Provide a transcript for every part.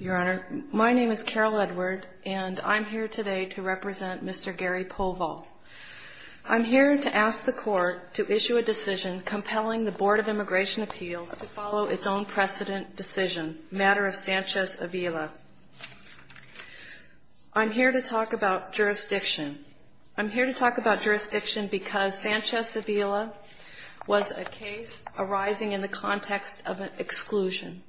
Your Honor, my name is Carol Edward, and I'm here today to represent Mr. Gary Povall. I'm here to ask the Court to issue a decision compelling the Board of Immigration Appeals to follow its own precedent decision, matter of Sanchez-Avila. I'm here to talk about jurisdiction. I'm here to talk about jurisdiction because Sanchez-Avila was a case arising in the context of an exclusion.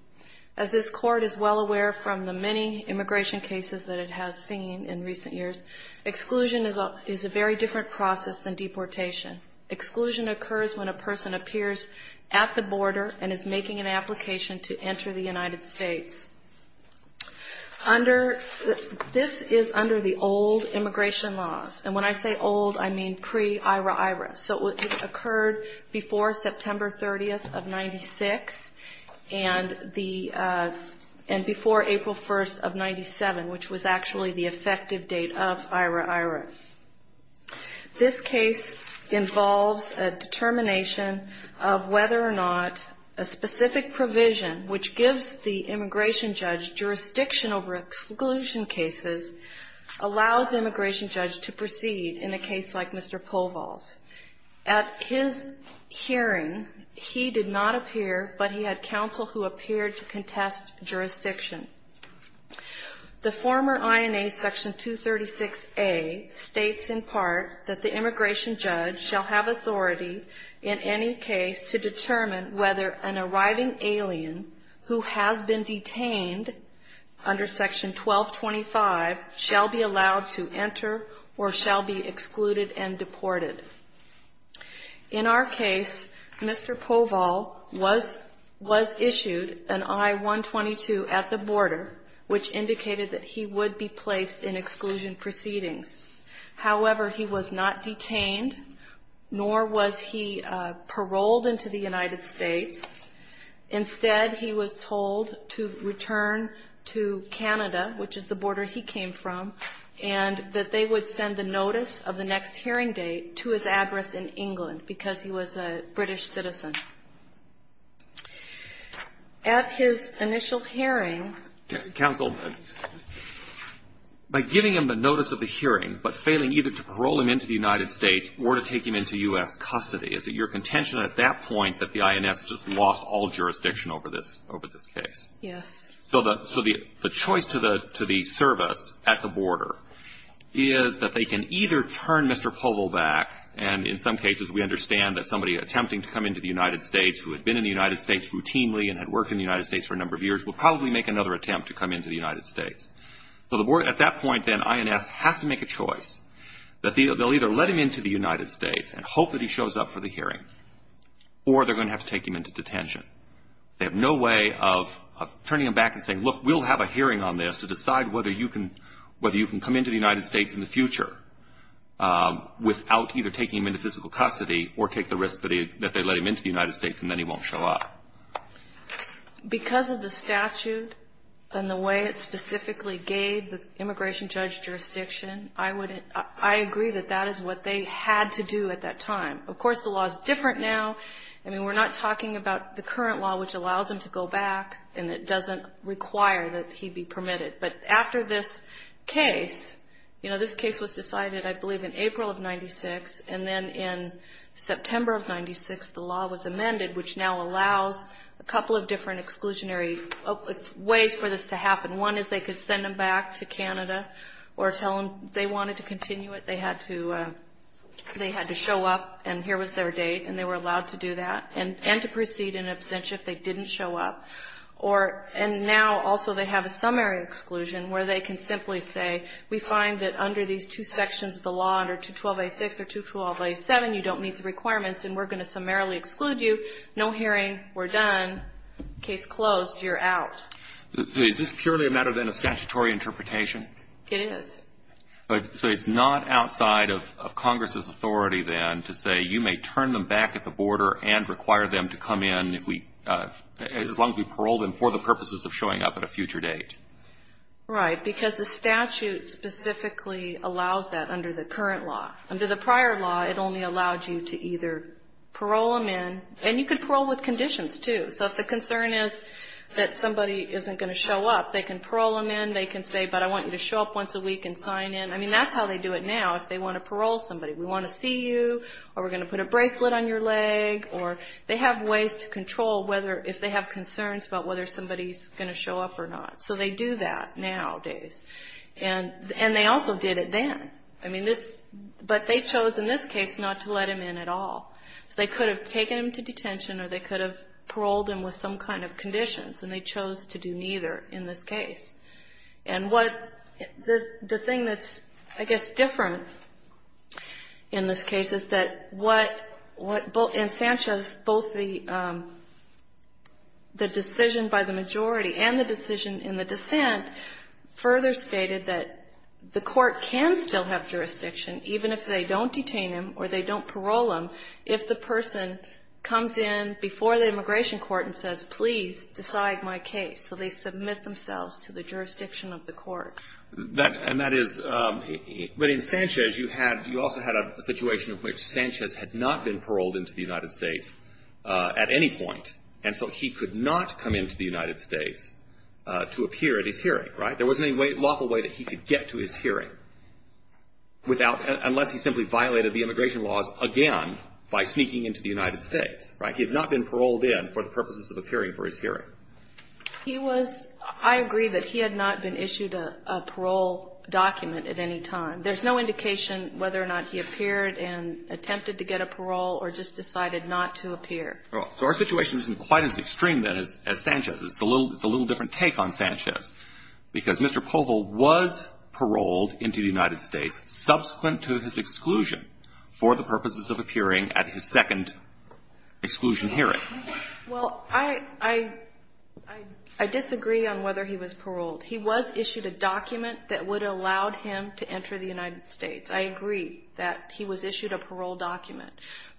As this Court is well aware from the many immigration cases that it has seen in recent years, exclusion is a very different process than deportation. Exclusion occurs when a person appears at the border and is making an application to enter the United States. This is under the old immigration laws, and when I say old, I mean pre-IRA-IRA. So it occurred before September 30th of 1996 and before April 1st of 1997, which was actually the effective date of IRA-IRA. This case involves a determination of whether or not a specific provision which gives the immigration judge jurisdiction over exclusion cases allows the immigration judge to proceed in a case like Mr. Poval's. At his hearing, he did not appear, but he had counsel who appeared to contest jurisdiction. The former INA Section 236A states in part that the immigration judge shall have authority in any case to determine whether an arriving alien who has been detained under Section 1225 shall be allowed to enter or shall be excluded and deported. In our case, Mr. Poval was issued an I-122 at the border, which indicated that he would be placed in exclusion proceedings. However, he was not detained, nor was he paroled into the United States. Instead, he was told to return to Canada, which is the border he came from, and that they would send the notice of the next hearing date to his address in England, because he was a British citizen. At his initial hearing ---- Alito, by giving him the notice of the hearing, but failing either to parole him into the United States or to take him into U.S. custody, is it your contention at that point that the INS just lost all jurisdiction over this case? Yes. So the choice to the service at the border is that they can either turn Mr. Poval back, and in some cases we understand that somebody attempting to come into the United States who had been in the United States routinely and had worked in the United States for a number of years would probably make another attempt to come into the United States. So at that point, then, INS has to make a choice that they'll either let him into the hearing, or they're going to have to take him into detention. They have no way of turning him back and saying, look, we'll have a hearing on this to decide whether you can come into the United States in the future without either taking him into physical custody or take the risk that they let him into the United States and then he won't show up. Because of the statute and the way it specifically gave the immigration judge jurisdiction, I would ---- I agree that that is what they had to do at that time. Of course, the law is different now. I mean, we're not talking about the current law, which allows him to go back and it doesn't require that he be permitted. But after this case, you know, this case was decided, I believe, in April of 1996, and then in September of 1996, the law was amended, which now allows a couple of different exclusionary ways for this to happen. One is they could send him back to Canada or tell him they wanted to continue it. They had to show up, and here was their date, and they were allowed to do that and to proceed in absentia if they didn't show up. And now, also, they have a summary exclusion where they can simply say, we find that under these two sections of the law, under 212A6 or 212A7, you don't meet the requirements and we're going to summarily exclude you. No hearing. We're done. Case closed. You're out. So is this purely a matter, then, of statutory interpretation? It is. So it's not outside of Congress's authority, then, to say, you may turn them back at the border and require them to come in if we, as long as we parole them for the purposes of showing up at a future date? Right. Because the statute specifically allows that under the current law. Under the prior law, it only allowed you to either parole them in, and you could parole with conditions, too. So if the concern is that somebody isn't going to show up, they can parole them in. They can say, but I want you to show up once a week and sign in. I mean, that's how they do it now, if they want to parole somebody. We want to see you, or we're going to put a bracelet on your leg, or they have ways to control whether, if they have concerns about whether somebody's going to show up or not. So they do that nowadays. And they also did it then. But they chose, in this case, not to let him in at all. So they could have taken him to detention, or they could have paroled him with some kind of conditions. And they chose to do neither in this case. And what the thing that's, I guess, different in this case is that what, in Sanchez, both the decision by the majority and the decision in the dissent further stated that the court can still have jurisdiction, even if they don't detain him or they don't parole him, if the person comes in before the immigration court and says, please, decide my case. So they submit themselves to the jurisdiction of the court. And that is, but in Sanchez, you had, you also had a situation in which Sanchez had not been paroled into the United States at any point. And so he could not come into the United States to appear at his hearing, right? There wasn't any lawful way that he could get to his hearing without, unless he simply violated the immigration laws again by sneaking into the United States, right? He had not been paroled in for the purposes of appearing for his hearing. He was, I agree that he had not been issued a parole document at any time. There's no indication whether or not he appeared and attempted to get a parole or just decided not to appear. Well, so our situation isn't quite as extreme then as Sanchez's. It's a little different take on Sanchez, because Mr. Povil was paroled into the United States subsequent to his exclusion for the purposes of appearing at his second exclusion hearing. Well, I disagree on whether he was paroled. He was issued a document that would have allowed him to enter the United States. I agree that he was issued a parole document.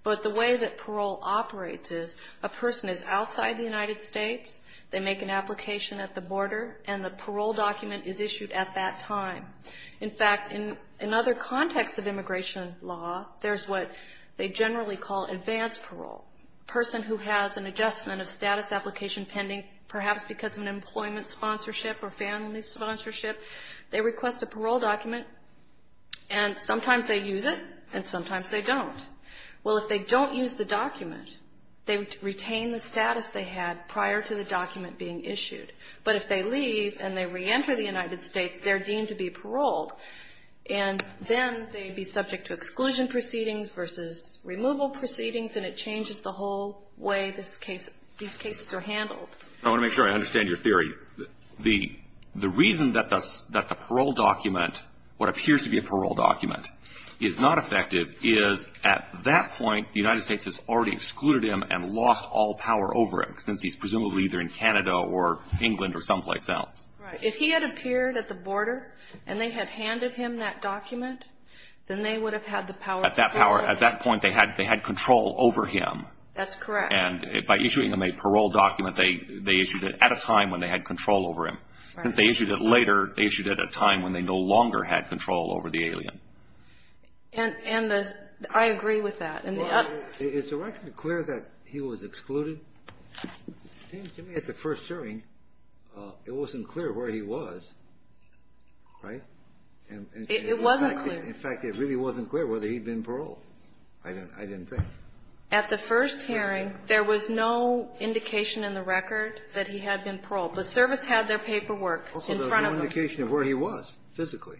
But the way that parole operates is a person is outside the United States, they make an application at the border, and the parole document is issued at that time. In fact, in another context of immigration law, there's what they generally call advanced parole, a person who has an adjustment of status application pending, perhaps because of an employment sponsorship or family sponsorship. They request a parole document, and sometimes they use it, and sometimes they don't. Well, if they don't use the document, they retain the status they had prior to the document being issued. But if they leave and they reenter the United States, they're deemed to be paroled, and then they'd be subject to exclusion proceedings versus removal proceedings, and it changes the whole way this case, these cases are handled. I want to make sure I understand your theory. The reason that the parole document, what appears to be a parole document, is not effective is, at that point, the United States has already excluded him and lost all power over him, since he's presumably either in Canada or England or someplace else. Right. If he had appeared at the border and they had handed him that document, then they would have had the power. At that point, they had control over him. That's correct. And by issuing them a parole document, they issued it at a time when they had control over him. Since they issued it later, they issued it at a time when they no longer had control over the alien. And I agree with that. Well, is the record clear that he was excluded? It seems to me at the first hearing, it wasn't clear where he was. Right? It wasn't clear. In fact, it really wasn't clear whether he'd been paroled. I didn't think. At the first hearing, there was no indication in the record that he had been paroled. The service had their paperwork in front of them. Also, there was no indication of where he was physically.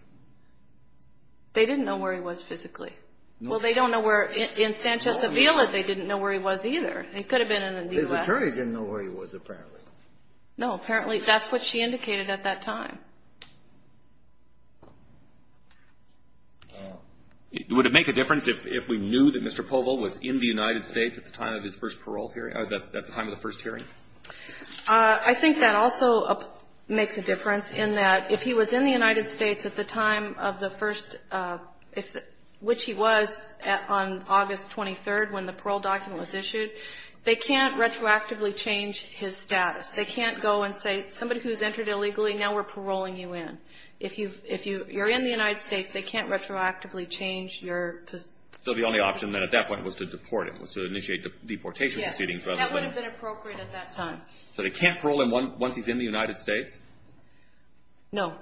They didn't know where he was physically. No. Well, they don't know where. In Sanchez Avila, they didn't know where he was either. He could have been in the U.S. His attorney didn't know where he was, apparently. No. Apparently, that's what she indicated at that time. Would it make a difference if we knew that Mr. Povo was in the United States at the time of his first parole hearing or at the time of the first hearing? I think that also makes a difference in that if he was in the United States at the time of the first, which he was on August 23rd when the parole document was issued, they can't retroactively change his status. They can't go and say, somebody who's entered illegally, now we're paroling you in. If you're in the United States, they can't retroactively change your position. So the only option then at that point was to deport him, was to initiate deportation proceedings. Yes. That would have been appropriate at that time. So they can't parole him once he's in the United States? No.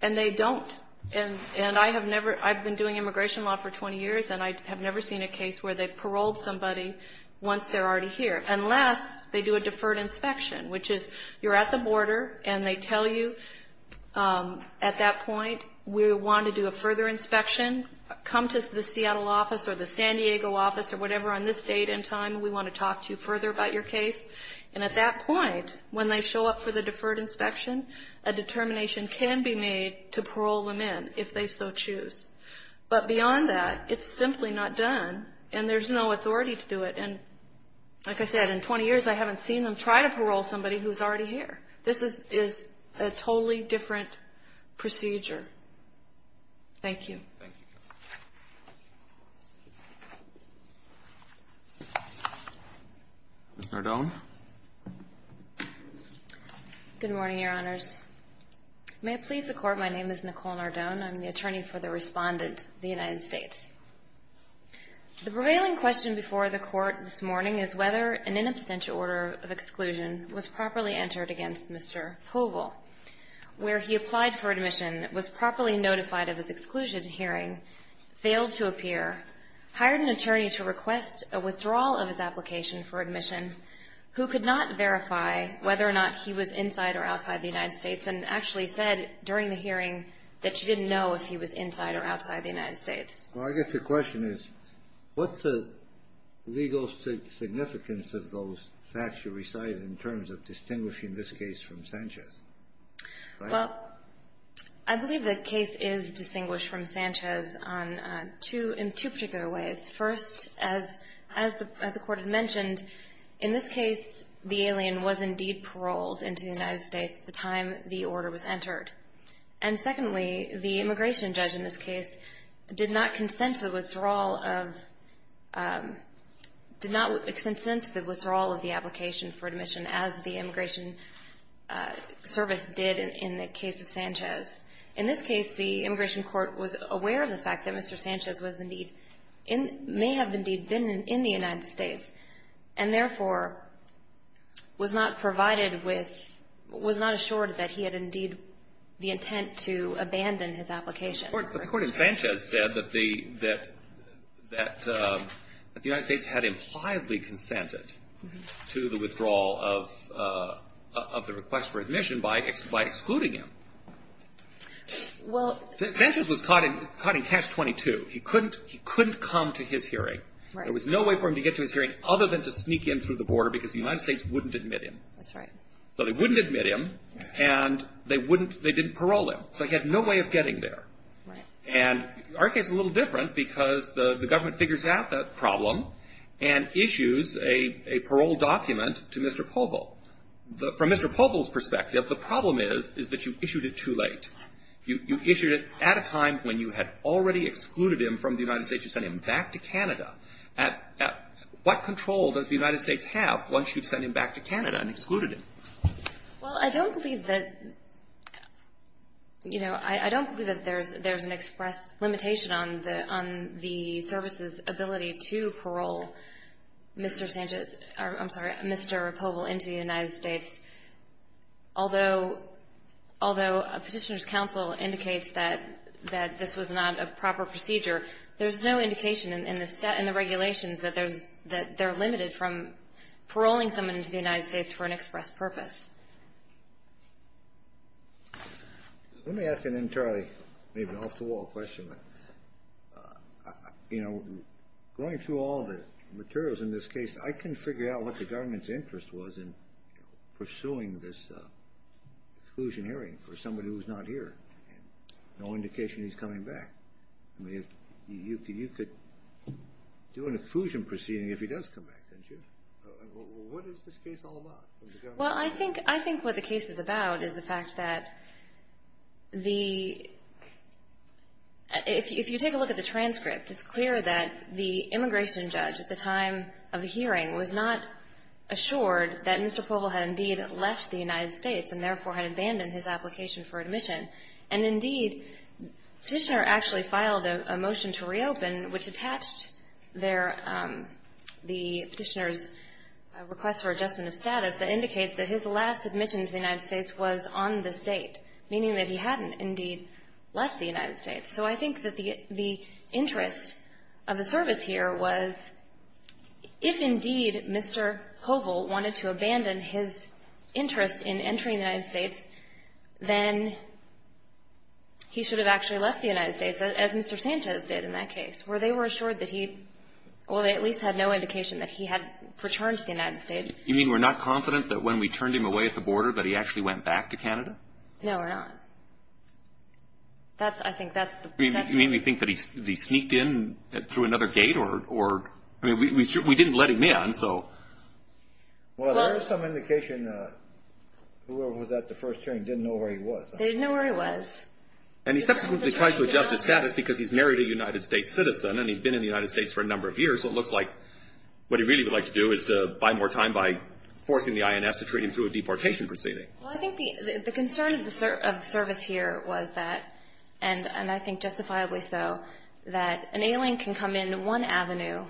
And they don't. And I have never, I've been doing immigration law for 20 years, and I have never seen a case where they paroled somebody once they're already here, unless they do a deferred inspection, which is you're at the border, and they tell you at that point, we want to do a further inspection. Come to the Seattle office or the San Diego office or whatever on this date and time. We want to talk to you further about your case. And at that point, when they show up for the deferred inspection, a determination can be made to parole them in, if they so choose. But beyond that, it's simply not done, and there's no authority to do it. And like I said, in 20 years, I haven't seen them try to parole somebody who's already here. This is a totally different procedure. Thank you. Thank you. Ms. Nardone. Good morning, Your Honors. May it please the Court, my name is Nicole Nardone. I'm the attorney for the Respondent of the United States. The prevailing question before the Court this morning is whether an in absentia order of exclusion was properly entered against Mr. Poval, where he applied for admission, was properly notified of his exclusion hearing, failed to appear, hired an attorney to request a withdrawal of his application for admission, who could not verify whether or not he was inside or outside the United States, and actually said during the hearing that she didn't know if he was inside or outside the United States. Well, I guess the question is, what's the legal significance of those facts you recite in terms of distinguishing this case from Sanchez? Well, I believe the case is distinguished from Sanchez in two particular ways. First, as the Court had mentioned, in this case, the alien was indeed paroled into the United States at the time the order was entered. And secondly, the immigration judge in this case did not consent to the withdrawal of, did not consent to the withdrawal of the application for admission, as the immigration service did in the case of Sanchez. In this case, the immigration court was aware of the fact that Mr. Sanchez was indeed, may have indeed been in the United States, and therefore was not provided with, was not assured that he had indeed the intent to abandon his application. The court in Sanchez said that the United States had impliedly consented to the withdrawal of the request for admission by excluding him. Well. Sanchez was caught in Hatch 22. He couldn't come to his hearing. Right. There was no way for him to get to his hearing other than to sneak in through the border because the United States wouldn't admit him. That's right. So they wouldn't admit him, and they wouldn't, they didn't parole him. So he had no way of getting there. Right. And our case is a little different because the government figures out that problem and issues a parole document to Mr. Povil. From Mr. Povil's perspective, the problem is that you issued it too late. You issued it at a time when you had already excluded him from the United States. You sent him back to Canada. What control does the United States have once you've sent him back to Canada and excluded him? Well, I don't believe that, you know, I don't believe that there's an express limitation on the service's ability to parole Mr. Sanchez or, I'm sorry, Mr. Povil into the United States. Although Petitioner's counsel indicates that this was not a proper procedure, there's no indication in the regulations that they're limited from paroling someone into the United States for an express purpose. Let me ask an entirely maybe off-the-wall question. You know, going through all the materials in this case, I couldn't figure out what the government's interest was in pursuing this exclusion hearing for somebody who's not here. No indication he's coming back. I mean, you could do an exclusion proceeding if he does come back, couldn't you? What is this case all about? Well, I think what the case is about is the fact that the — if you take a look at the transcript, it's clear that the immigration judge at the time of the hearing was not assured that Mr. Povil had indeed left the United States and therefore had abandoned his application for admission. And indeed, Petitioner actually filed a motion to reopen which attached their — the Petitioner's request for adjustment of status that indicates that his last admission to the United States was on this date, meaning that he hadn't indeed left the United States. So I think that the interest of the service here was if indeed Mr. Povil wanted to abandon his interest in entering the United States, then he should have actually left the United States as Mr. Sanchez did in that case, where they were assured that he — well, they at least had no indication that he had returned to the United States. You mean we're not confident that when we turned him away at the border that he actually went back to Canada? No, we're not. That's — I think that's the — You mean we think that he sneaked in through another gate or — I mean, we didn't see him letting in, so — Well, there is some indication that whoever was at the first hearing didn't know where he was. They didn't know where he was. And he subsequently tried to adjust his status because he's married a United States citizen and he's been in the United States for a number of years, so it looks like what he really would like to do is to buy more time by forcing the INS to treat him through a deportation proceeding. Well, I think the concern of the service here was that — and I think justifiably so — that an alien can come in one avenue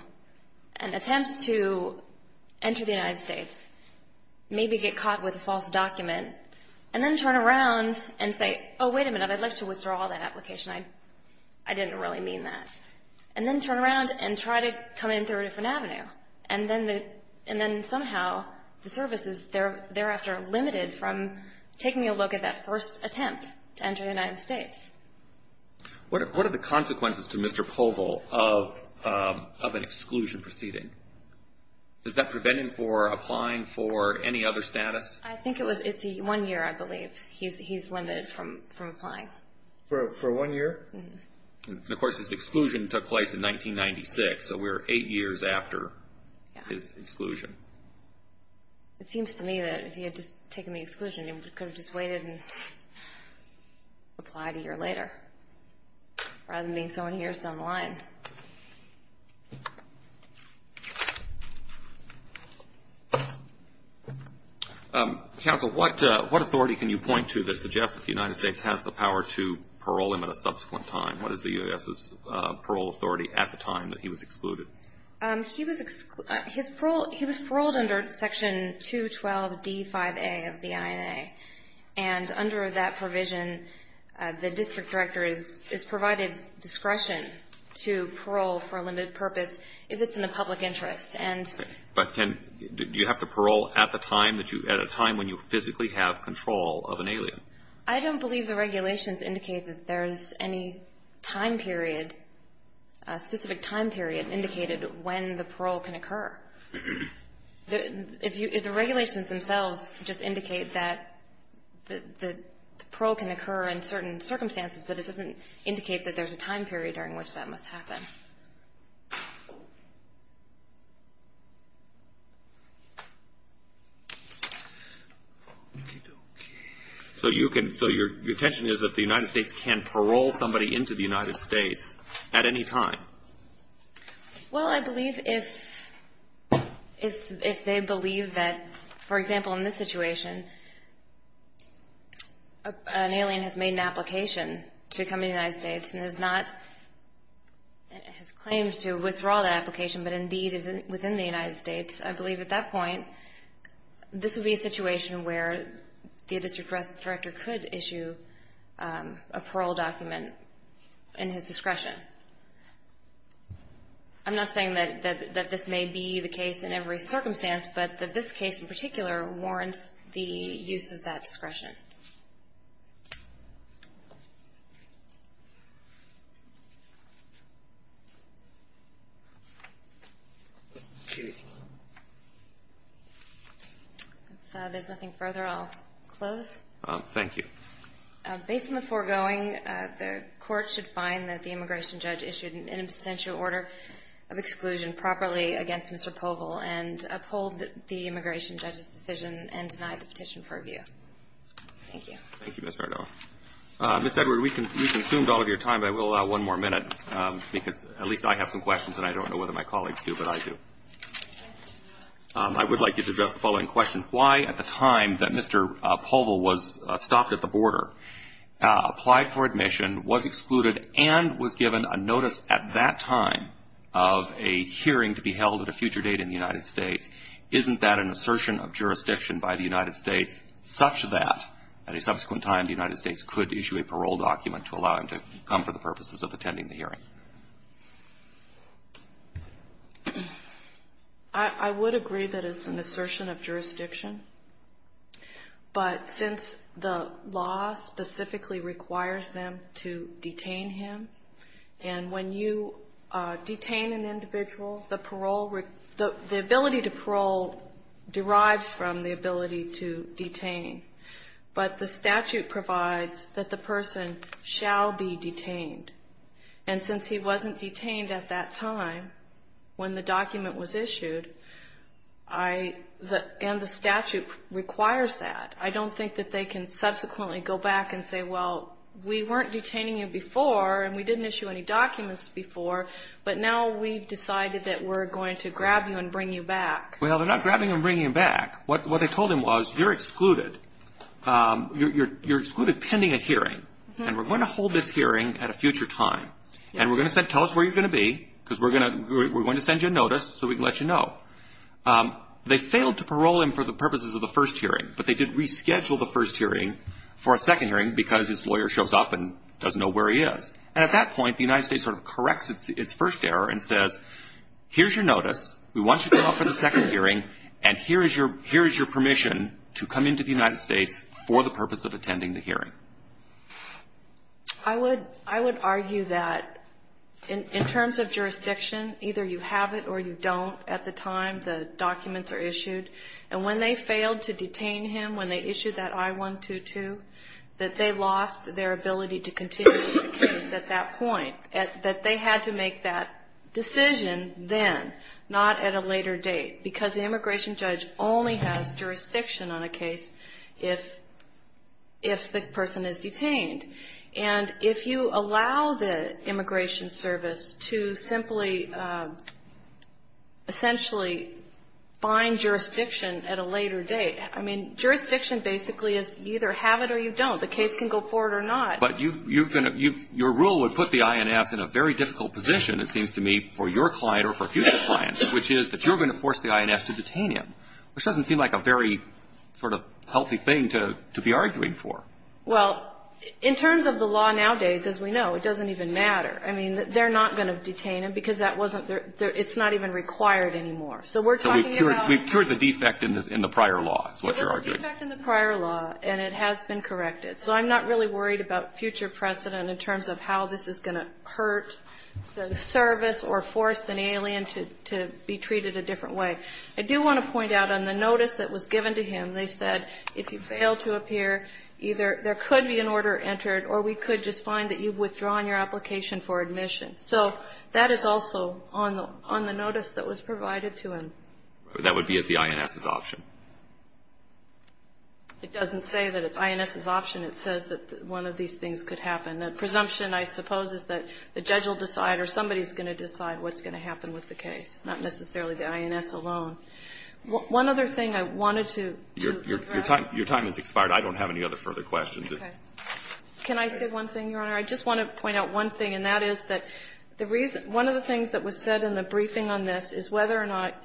and attempt to enter the United States, maybe get caught with a false document, and then turn around and say, oh, wait a minute, I'd like to withdraw that application. I didn't really mean that. And then turn around and try to come in through a different avenue. And then somehow the service is thereafter limited from taking a look at that first attempt to enter the United States. What are the consequences to Mr. Povel of an exclusion proceeding? Is that preventing him from applying for any other status? I think it's one year, I believe, he's limited from applying. For one year? And of course his exclusion took place in 1996, so we're eight years after his exclusion. It seems to me that if he had just taken the exclusion, he could have just waited and applied a year later, rather than being so many years down the line. Counsel, what authority can you point to that suggests that the United States has the power to parole him at a subsequent time? What is the U.S.'s parole authority at the time that he was excluded? He was paroled under Section 212D5A of the INA. And under that provision, the U.S. district director is provided discretion to parole for a limited purpose if it's in the public interest. But do you have to parole at a time when you physically have control of an alien? I don't believe the regulations indicate that there's any time period, a specific time period indicated when the parole can occur. The regulations themselves just indicate that the parole can occur in certain circumstances, but it doesn't indicate that there's a time period during which that must happen. So your attention is that the United States can parole somebody into the United States at any time? Well, I believe if they believe that, for example, in this situation, an alien has made an application to come to the United States and has not, has claimed to withdraw that application, but indeed is within the United States, I believe at that point, this would be a situation where the district director could issue a parole document in his discretion. I'm not saying that this may be the case in every circumstance, but that this case in particular warrants the use of that discretion. If there's nothing further, I'll close. Thank you. Based on the foregoing, the Court should find that the immigration judge issued an in absentia order of exclusion properly against Mr. Povil and uphold the immigration judge's decision and deny the petition for review. Thank you. Thank you, Ms. Bardot. Ms. Edward, we consumed all of your time, but I will allow one more minute, because at least I have some questions, and I don't know whether my colleagues do, but I do. I would like you to address the following question. Why, at the time that Mr. Povil was stopped at the border, applied for admission, was excluded, and was given a notice at that time of a hearing to be held at a future date in the United States, isn't that an assertion of jurisdiction by the United States such that, at a subsequent time, the United States could issue a parole document to allow him to come for the purposes of attending the hearing? I would agree that it's an assertion of jurisdiction, but since the law says that the immigration judge's decision specifically requires them to detain him, and when you detain an individual, the parole, the ability to parole derives from the ability to detain, but the statute provides that the person shall be detained, and since he wasn't detained at that time when the document was issued, I, and the statute requires that, I don't think that they can subsequently go back and say, well, we weren't detaining you before, and we didn't issue any documents before, but now we've decided that we're going to grab you and bring you back. Well, they're not grabbing him and bringing him back. What they told him was, you're excluded. You're excluded pending a hearing, and we're going to hold this hearing at a future time, and we're going to send, tell us where you're going to be, because we're going to send you a notice so we can let you know. They failed to parole him for the purposes of the first hearing, but they did reschedule the first hearing for a second hearing because his lawyer shows up and doesn't know where he is, and at that point, the United States sort of corrects its first error and says, here's your notice. We want you to come up for the second hearing, and here is your permission to come into the United States for the purpose of attending the hearing. I would argue that in terms of jurisdiction, either you have it or you don't at the time the documents are issued, and when they failed to detain him, when they issued that I-122, that they lost their ability to continue with the case at that point, that they had to make that decision then, not at a later date, because the immigration judge only has jurisdiction on a case if the person is not a detainee. And if you allow the immigration service to simply essentially find jurisdiction at a later date, I mean, jurisdiction basically is either have it or you don't. The case can go forward or not. But your rule would put the INS in a very difficult position, it seems to me, for your client or for future clients, which is that you're going to have to have jurisdiction on a case at a later date. So I'm not really worried about future precedent in terms of how this is going to hurt the service or force an alien to be treated a different way. I do want to point out on the notice that was given to him, they said if you fail to appear, either there could be a second trial, or there could be an order entered, or we could just find that you've withdrawn your application for admission. So that is also on the notice that was provided to him. That would be at the INS's option. It doesn't say that it's INS's option. It says that one of these things could happen. The presumption, I suppose, is that the judge will decide or somebody is going to decide what's going to happen with the case, not necessarily the INS alone. One other thing I wanted to address. Your time has expired. I don't have any other further questions. Okay. Can I say one thing, Your Honor? I just want to point out one thing, and that is that one of the things that was said in the briefing on this is whether or not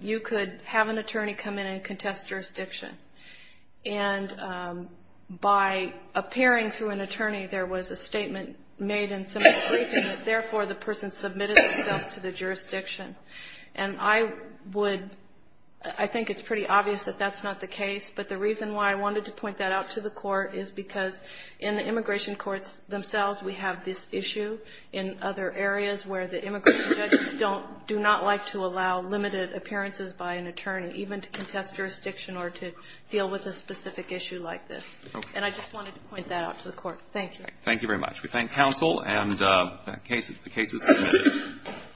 you could have an attorney come in and contest jurisdiction. And by appearing through an attorney, there was a statement made in some of the briefing that, therefore, the person submitted themselves to the jurisdiction. And I would — I think it's pretty obvious that that's not the case, but the reason why I wanted to point that out to the Court is because in the immigration courts themselves, we have this issue in other areas where the immigration judges don't — do not like to allow limited appearances by an attorney, even to contest jurisdiction or to deal with a specific issue like this. Okay. And I just wanted to point that out to the Court. Thank you. Thank you very much. We thank counsel and the cases submitted.